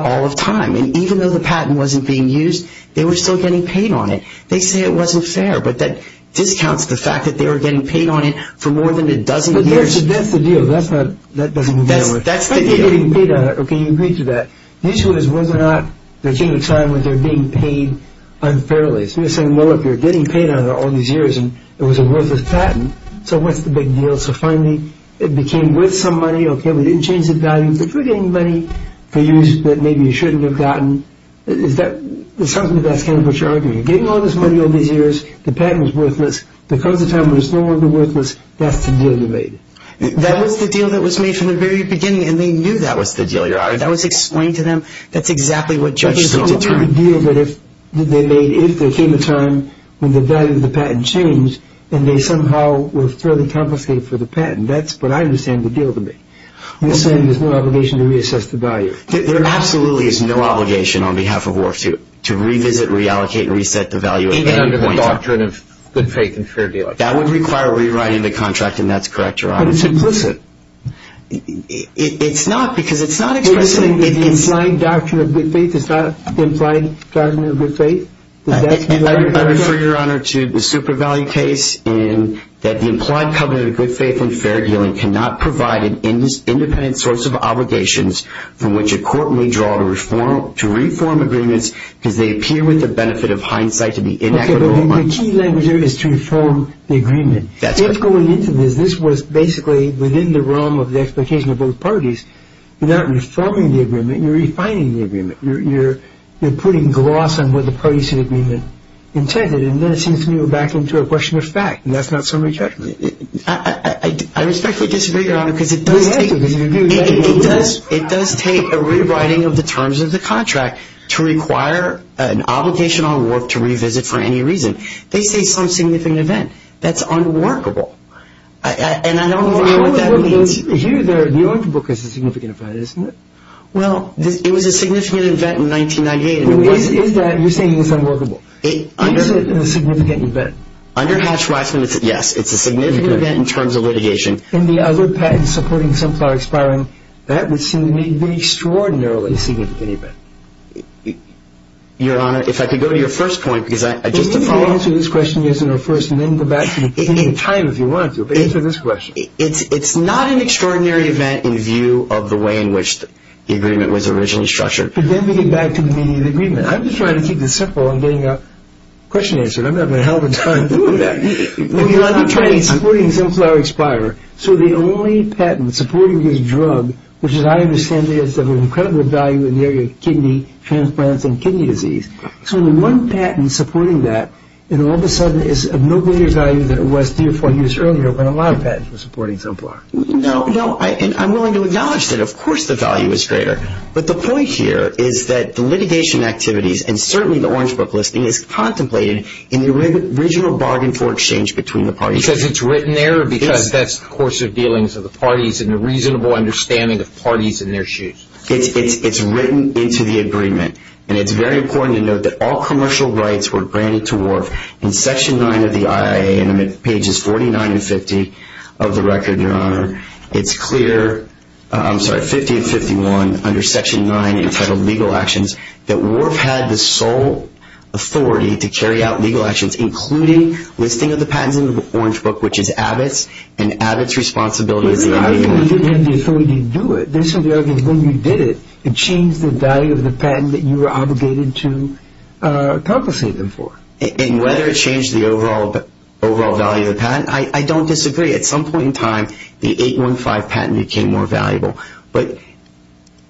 all of time. And even though the patent wasn't being used, they were still getting paid on it. They say it wasn't fair, but that discounts the fact that they were getting paid on it for more than a dozen years. That's the deal. That's not— That doesn't matter. That's the deal. They're getting paid on it. Okay, you agree to that. The issue is whether or not they're taking time when they're being paid unfairly. So you're saying, well, if you're getting paid on it all these years and it was a worthless patent, so what's the big deal? So finally, it became worth some money. Okay, we didn't change the value, but if we're getting money for use that maybe you shouldn't have gotten, is that something that's kind of what you're getting all this money all these years, the patent was worthless, because of time when it's no longer worthless, that's the deal you made. That was the deal that was made from the very beginning, and they knew that was the deal, Your Honor. That was explained to them. That's exactly what judges need to determine. The deal that if they made, if there came a time when the value of the patent changed, then they somehow were fairly compensated for the patent. That's what I understand the deal to be. I'm just saying there's no obligation to reassess the value. There absolutely is no obligation on behalf of WAR II to revisit, reallocate, and reset the value at any point. Even under the doctrine of good faith and fair dealing. That would require rewriting the contract, and that's correct, Your Honor. But it's implicit. It's not, because it's not expressly... It's not the implying doctrine of good faith? It's not the implying doctrine of good faith? I refer, Your Honor, to the Supervalue case in that the implied covenant of good faith and fair dealing cannot provide an independent source of obligations from which a court may draw to reform agreements, because they appear with the benefit of hindsight to be inequitable... Okay, but the key language there is to reform the agreement. That's correct. If going into this, this was basically within the realm of the expectation of both parties, you're not reforming the agreement, you're refining the agreement. You're putting gloss on what the parties of the agreement intended, and then it seems to me we're back into a question of fact, and that's not summary judgment. I respectfully disagree, Your Honor, because it does take... Go ahead, because if you're... It does take a rewriting of the terms of the contract to require an obligation on warp to revisit for any reason. They say some significant event. That's unworkable, and I don't know what that means. Here, the ointment book is a significant event, isn't it? Well, it was a significant event in 1998. You're saying it's unworkable. Is it a significant event? Under Hatch-Waxman, yes, it's a significant event in terms of litigation. In the other patent supporting sunflower expiring, that would seem to me to be extraordinarily a significant event. Your Honor, if I could go to your first point, because I just... We can answer this question, yes, in our first, and then go back to the beginning time if you want to, but answer this question. It's not an extraordinary event in view of the way in which the agreement was originally structured. But then we get back to the meaning of the agreement. I'm just trying to keep this simple. I'm getting a question answered. I'm not going to have a lot of time to do that. The other patent supporting sunflower expiring, so the only patent supporting this drug, which as I understand it is of incredible value in the area of kidney transplants and kidney disease. So the one patent supporting that, and all of a sudden is of no greater value than it was three or four years earlier when a lot of patents were supporting sunflower. No, no, and I'm willing to acknowledge that, of course, the value is greater. But the point here is that the litigation activities, and certainly the orange book listing, is contemplated in the original bargain for exchange between the parties. Because it's written there, or because that's the course of dealings of the parties and a reasonable understanding of parties and their shoes? It's written into the agreement. And it's very important to note that all commercial rights were granted to Wharf in Section 9 of the IIA, and I'm at pages 49 and 50 of the record, Your Honor. It's clear, I'm sorry, 50 and 51, under Section 9, entitled Legal Actions, that Wharf had the sole authority to carry out legal actions, including listing of the patents in the orange book, which is Abbott's. And Abbott's responsibility is the argument. But they didn't have the authority to do it. They said the argument is when you did it, it changed the value of the patent that you were obligated to compensate them for. And whether it changed the overall value of the patent, I don't disagree. At some point in time, the 815 patent became more valuable. But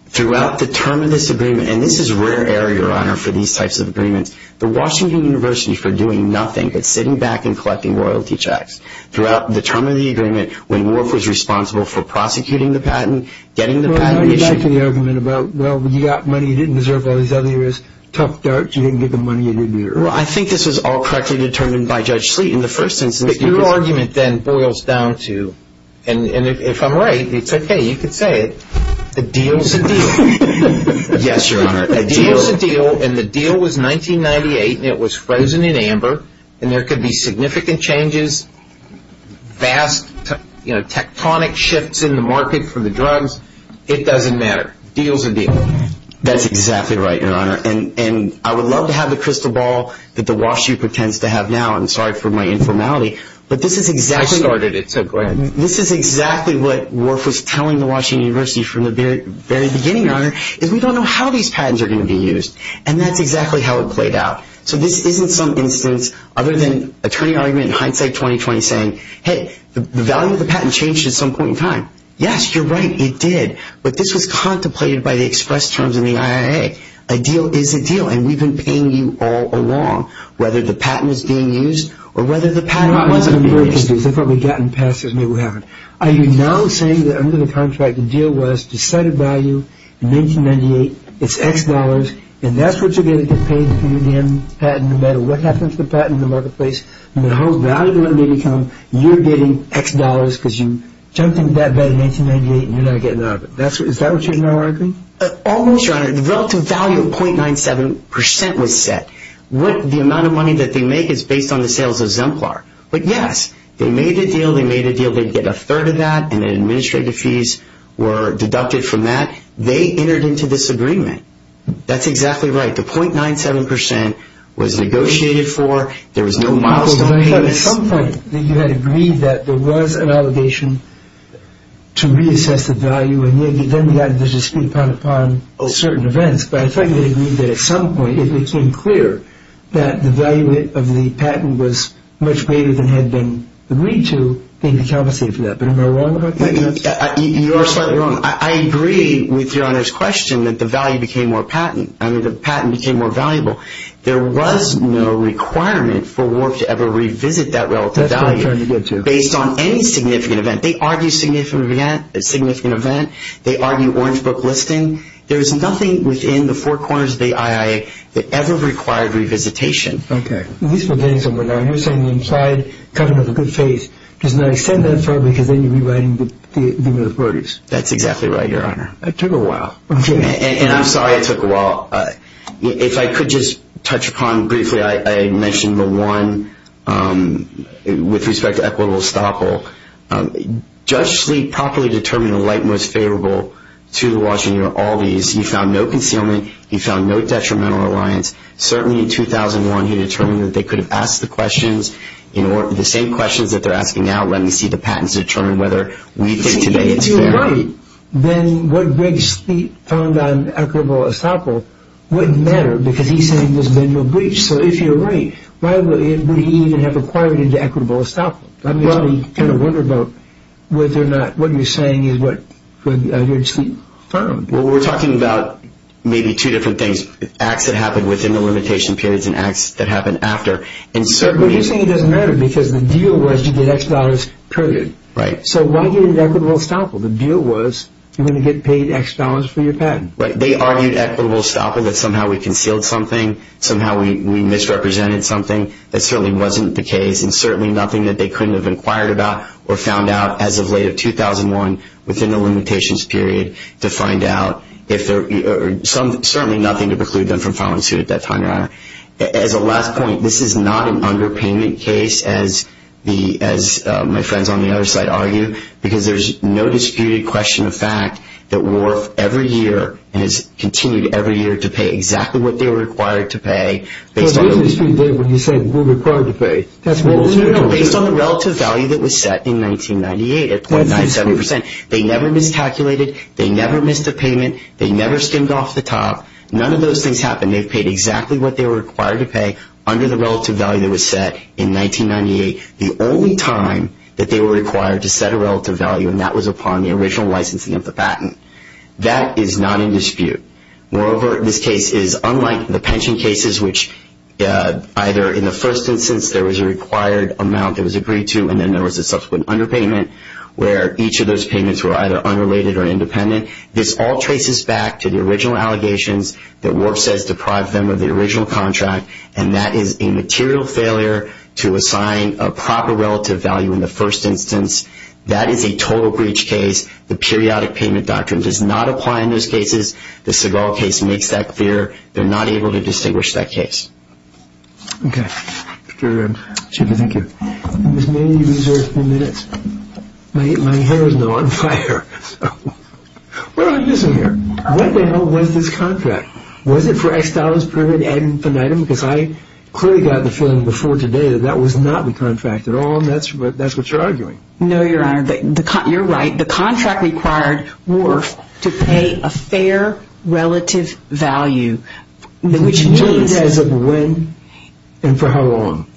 throughout the term of this agreement, and this is rare error, Your Honor, for these types of agreements, the Washington University, for doing nothing but sitting back and collecting royalty checks, throughout the term of the agreement, when Wharf was responsible for prosecuting the patent, getting the patent issued. Well, I like the argument about, well, you got money you didn't deserve all these other years. Tough darts. You didn't get the money you needed. I think this was all correctly determined by Judge Sleet in the first instance. But your argument then boils down to, and if I'm right, it's OK. You can say it. The deal's a deal. Yes, Your Honor. The deal's a deal. And the deal was 1998, and it was frozen in amber. And there could be significant changes, vast tectonic shifts in the market for the drugs. It doesn't matter. Deal's a deal. That's exactly right, Your Honor. And I would love to have the crystal ball that the WashU pretends to have now. I'm sorry for my informality. But this is exactly... I started it, so go ahead. This is exactly what Worf was telling the Washington University from the very beginning, Your Honor, is we don't know how these patents are going to be used. And that's exactly how it played out. So this isn't some instance other than a turning argument in hindsight 2020 saying, hey, the value of the patent changed at some point in time. Yes, you're right. It did. But this was contemplated by the express terms in the IIA. A deal is a deal. And we've been paying you all along, whether the patent is being used or whether the patent wasn't being used. They've probably gotten past this. Maybe we haven't. Are you now saying that under the contract, the deal was to set a value in 1998. It's X dollars. And that's what you're going to get paid for the patent no matter what happens to the patent in the marketplace, no matter how valuable it may become, you're getting X dollars because you jumped into that bet in 1998 and you're not getting out of it. Is that what you're now arguing? Almost, Your Honor. The relative value of 0.97% was set. The amount of money that they make is based on the sales of Zemplar. But yes, they made a deal. They made a deal. They'd get a third of that. And the administrative fees were deducted from that. They entered into this agreement. That's exactly right. The 0.97% was negotiated for. There was no milestone payments. At some point, you had agreed that there was an obligation to reassess the value. And then we got to speak upon certain events. But I thought you had agreed that at some point it became clear that the value of the patent was greater than had been agreed to in the conversation for that. But am I wrong about that? You are slightly wrong. I agree with Your Honor's question that the value became more patent. I mean, the patent became more valuable. There was no requirement for WARF to ever revisit that relative value based on any significant event. They argue significant event. They argue orange book listing. There is nothing within the four corners of the IIA that ever required revisitation. Okay. At least for things that were done. You're saying the implied covenant of good faith does not extend that far because then you're rewriting the militarities. That's exactly right, Your Honor. It took a while. Okay. And I'm sorry it took a while. If I could just touch upon briefly, I mentioned the one with respect to equitable estoppel. Judge Sleek properly determined the light most favorable to the Washington all these. He found no concealment. He found no detrimental reliance. Certainly in 2001, he determined that they could have asked the questions, the same questions that they're asking now when we see the patents determine whether we think today it's fair. If you're right, then what Greg Sleek found on equitable estoppel wouldn't matter because he's saying there's been no breach. So if you're right, why would he even have acquired into equitable estoppel? That makes me kind of wonder about whether or not what you're saying is what Greg Sleek found. We're talking about maybe two different things, acts that happened within the limitation periods and acts that happened after. But you're saying it doesn't matter because the deal was you get X dollars period. Right. So why get into equitable estoppel? The deal was you're going to get paid X dollars for your patent. Right. They argued equitable estoppel that somehow we concealed something, somehow we misrepresented something. That certainly wasn't the case and certainly nothing that they couldn't have inquired about or found out as of late of 2001 within the limitations period to find out. Certainly nothing to preclude them from filing a suit at that time. As a last point, this is not an underpayment case as my friends on the other side argue because there's no disputed question of fact that Wharf every year and has continued every year to pay exactly what they were required to pay. There was a dispute there when you said we're required to pay. Based on the relative value that was set in 1998 at .97 percent. They never miscalculated. They never missed a payment. They never skimmed off the top. None of those things happened. They've paid exactly what they were required to pay under the relative value that was set in 1998. The only time that they were required to set a relative value and that was upon the original licensing of the patent. That is not in dispute. Moreover, this case is unlike the pension cases which either in the first instance there was a required amount that was agreed to and then there was a subsequent underpayment where each of those payments were either unrelated or independent. This all traces back to the original allegations that Wharf says deprived them of the original contract and that is a material failure to assign a proper relative value in the first instance. That is a total breach case. The periodic payment doctrine does not apply in those cases. The Seagal case makes that clear. They're not able to distinguish that case. Okay, thank you. Ms. May, you reserve a few minutes. My hair is now on fire. What am I missing here? What the hell was this contract? Was it for X dollars per head and an item? Because I clearly got the feeling before today that that was not the contract at all and that's what you're arguing. No, your honor. You're right. The contract required Wharf to pay a fair relative value. Determined as of when and for how long?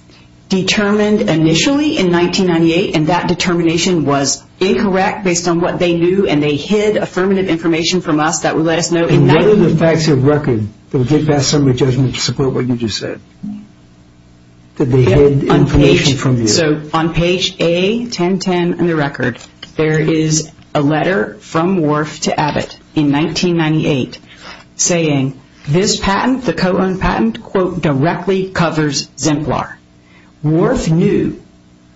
Determined initially in 1998 and that determination was incorrect based on what they knew and they hid affirmative information from us that would let us know. And what are the facts of record that would get past summary judgment to support what you just said? So on page A-1010 in the record, there is a letter from Wharf to Abbott in 1998 saying this patent, the co-owned patent, quote, directly covers Zimplar. Wharf knew,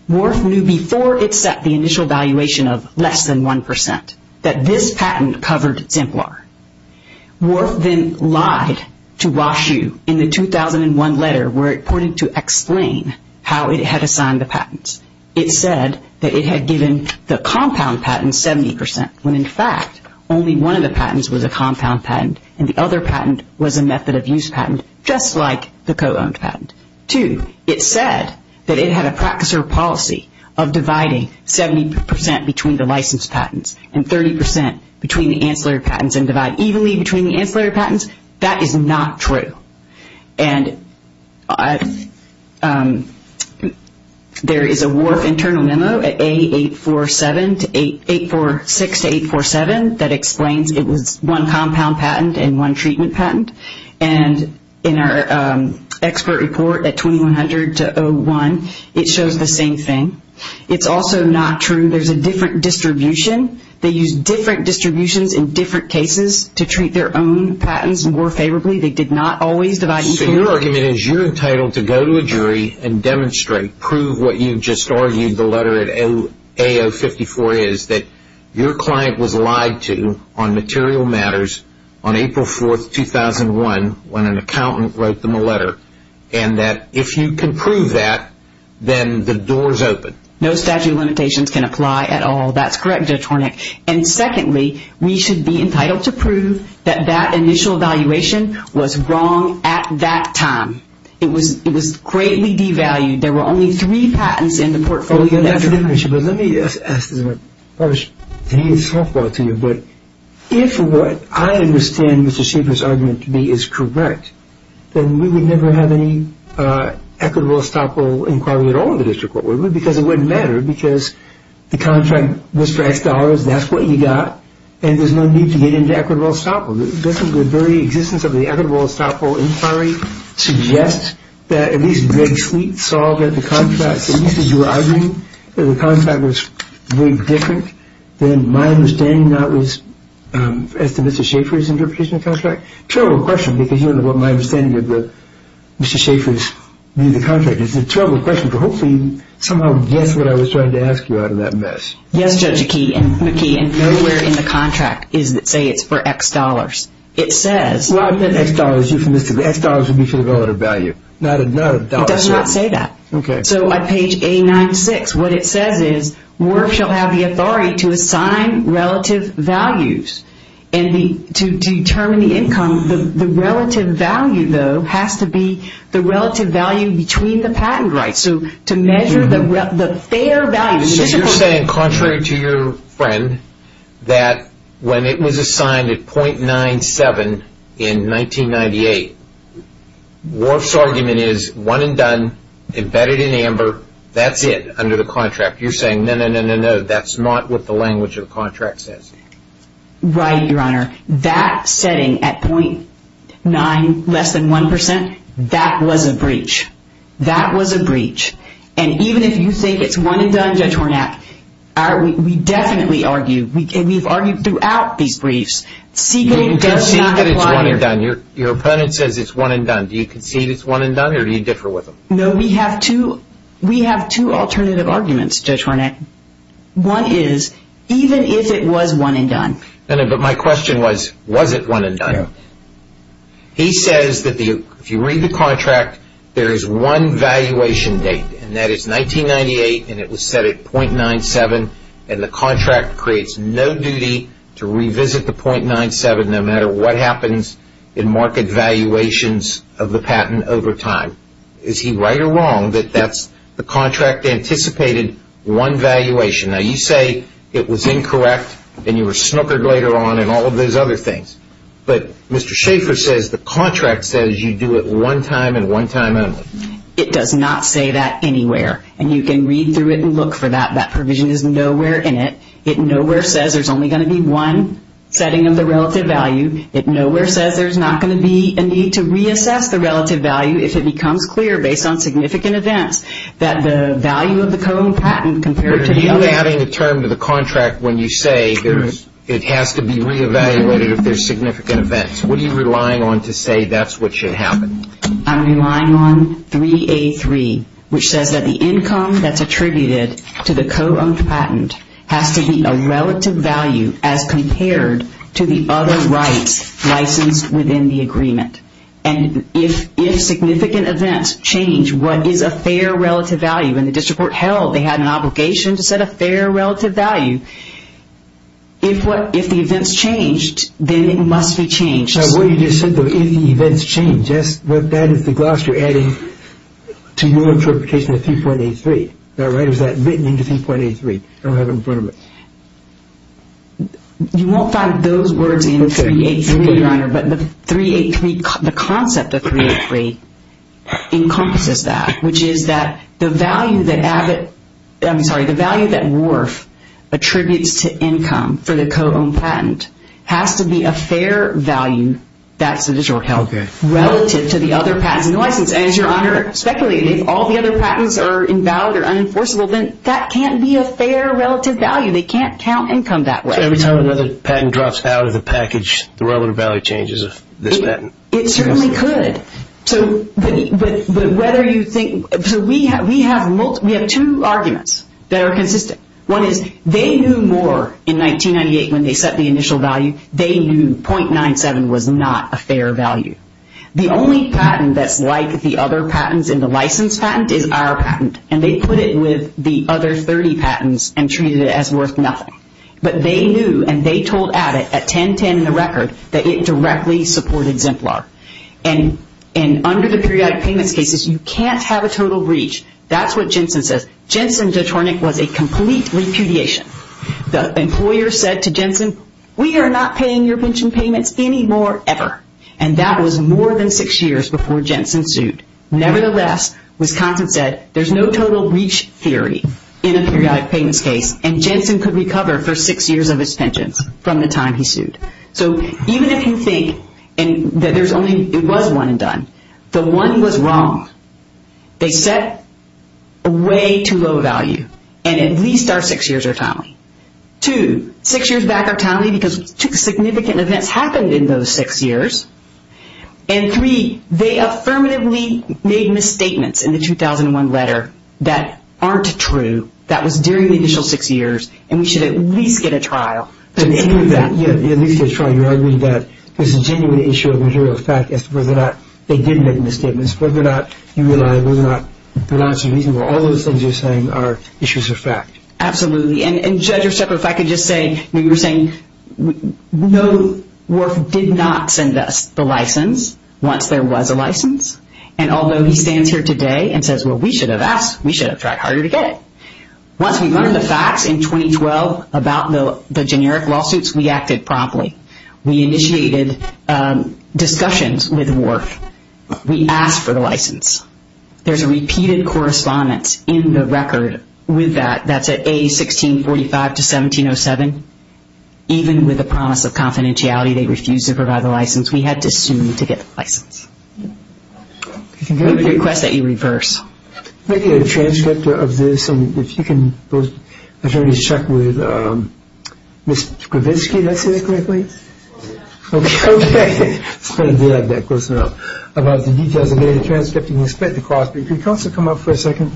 Wharf knew before it set the initial valuation of less than 1% that this patent covered Zimplar. Wharf then lied to Wash U in the 2001 letter where it pointed to explain how it had assigned the patents. It said that it had given the compound patent 70% when in fact only one of the patents was a compound patent and the other patent was a method of use patent just like the co-owned patent. Two, it said that it had a practice or policy of dividing 70% between the licensed patents and 30% between the ancillary patents and divide evenly between the ancillary patents. That is not true. And there is a Wharf internal memo at A-846-847 that explains it was one compound patent and one treatment patent. And in our expert report at 2100-01, it shows the same thing. It is also not true. There is a different distribution. They use different distributions in different cases to treat their own patents more favorably. They did not always divide equally. So your argument is you are entitled to go to a jury and demonstrate, prove what you just argued the letter at A-054 is that your client was lied to on material matters on April 4, 2001 when an accountant wrote them a letter and that if you can prove that, then the door is open. No statute of limitations can apply at all. That is correct, Judge Hornick. And secondly, we should be entitled to prove that that initial evaluation was wrong at that time. It was greatly devalued. There were only three patents in the portfolio. Let me ask this. If what I understand Mr. Schieffer's argument to be is correct, then we would never have any equitable, estoppel inquiry at all in the district court because it would not matter because the contract was for X dollars, that is what you got, and there is no need to get into equitable estoppel. Doesn't the very existence of the equitable estoppel inquiry suggest that at least Red Fleet saw that the contract, at least as you were arguing, that the contract was very different than my understanding that was as to Mr. Schieffer's interpretation of the contract? Terrible question because you don't know what my understanding of Mr. Schieffer's view of the contract is. It's a terrible question, but hopefully you somehow guessed what I was trying to ask you out of that mess. Yes, Judge McKee, and nowhere in the contract does it say it's for X dollars. It says... Well, I've got X dollars euphemistically. X dollars would be for the relative value, not a dollar sum. It does not say that. Okay. So on page 896, what it says is, WIRF shall have the authority to assign relative values and to determine the income. The relative value, though, has to be the relative value between the patent rights. So to measure the fair value... You're saying, contrary to your friend, that when it was assigned at .97 in 1998, WIRF's argument is one and done, embedded in amber, that's it under the contract. You're saying, no, no, no, no, no, that's not what the language of the contract says. Right, Your Honor. That setting at .9, less than 1%, that was a breach. That was a breach. And even if you think it's one and done, Judge Warnak, we definitely argue, we've argued throughout these briefs, see that it does not apply here. Your opponent says it's one and done. Do you concede it's one and done, or do you differ with him? No, we have two alternative arguments, Judge Warnak. One is, even if it was one and done... But my question was, was it one and done? He says that if you read the contract, there is one valuation date, and that is 1998, and it was set at .97, and the contract creates no duty to revisit the .97, no matter what happens in market valuations of the patent over time. Is he right or wrong that the contract anticipated one valuation? Now, you say it was incorrect, and you were snookered later on, and all of those other things. But Mr. Schaffer says the contract says you do it one time and one time only. It does not say that anywhere. And you can read through it and look for that. That provision is nowhere in it. It nowhere says there's only going to be one setting of the relative value. It nowhere says there's not going to be a need to reassess the relative value if it becomes clear, based on significant events, that the value of the co-owned patent compared to the other... Are you adding a term to the contract when you say it has to be re-evaluated if there's significant events? What are you relying on to say that's what should happen? I'm relying on 3A3, which says that the income that's attributed to the co-owned patent has to be a relative value as compared to the other rights licensed within the agreement. And if significant events change, what is a fair relative value? And the district court held they had an obligation to set a fair relative value. If the events changed, then it must be changed. What you just said, though, if the events change, that's what that is the gloss you're adding to your interpretation of 3.83. Is that right? Or is that written into 3.83? I don't have it in front of me. You won't find those words in 3A3, Your Honor. But the 3.83, the concept of 3.83 encompasses that, which is that the value that Worf attributes to income for the co-owned patent has to be a fair value, that's the district court held, relative to the other patents in the license. And as Your Honor speculated, if all the other patents are invalid or unenforceable, then that can't be a fair relative value. They can't count income that way. Every time another patent drops out of the package, the relative value changes of this patent. It certainly could. We have two arguments that are consistent. One is they knew more in 1998 when they set the initial value. They knew 0.97 was not a fair value. The only patent that's like the other patents in the license patent is our patent. And they put it with the other 30 patents and treated it as worth nothing. But they knew and they told Abbott at 10-10 in the record that it directly supported Zemplar. And under the periodic payments cases, you can't have a total breach. That's what Jensen says. Jensen's attorney was a complete repudiation. The employer said to Jensen, we are not paying your pension payments anymore ever. And that was more than six years before Jensen sued. Nevertheless, Wisconsin said there's no total breach theory in a periodic payments case and Jensen could recover for six years of his pensions from the time he sued. So even if you think that there's only, it was one and done. The one was wrong. They set a way too low value. And at least our six years are timely. Two, six years back are timely because two significant events happened in those six years. And three, they affirmatively made misstatements in the 2001 letter that aren't true. That was during the initial six years. And we should at least get a trial. But at least get a trial. You're arguing that there's a genuine issue of material fact as to whether or not they did make misstatements, whether or not you realize, whether or not they're not reasonable. All those things you're saying are issues of fact. Absolutely. And judge, if I could just say, you were saying, no, Worf did not send us the license once there was a license. And although he stands here today and says, well, we should have asked, we should have tried harder to get it. Once we learned the facts in 2012 about the generic lawsuits, we acted promptly. We initiated discussions with Worf. We asked for the license. There's a repeated correspondence in the record with that. That's at A1645 to 1707. Even with the promise of confidentiality, they refused to provide the license. We had to sue to get the license. I'm going to request that you reverse. Maybe a transcript of this. And if you can, if you want me to check with Ms. Gravitsky, did I say that correctly? Yeah. Okay. I was going to do that, but of course not. About the details of the transcript, you can expect to cross. But if you could also come up for a second.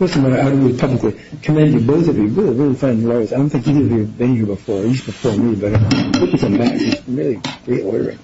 Listen, I'm going to publicly commend you, both of you, really, really fine lawyers. I don't think any of you have been here before. You used to perform really better. It's amazing. Really great lawyer.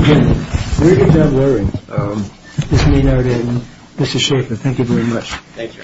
Okay. We're going to have a hearing. This may not end. Mr. Schaffer, thank you very much. Thank you.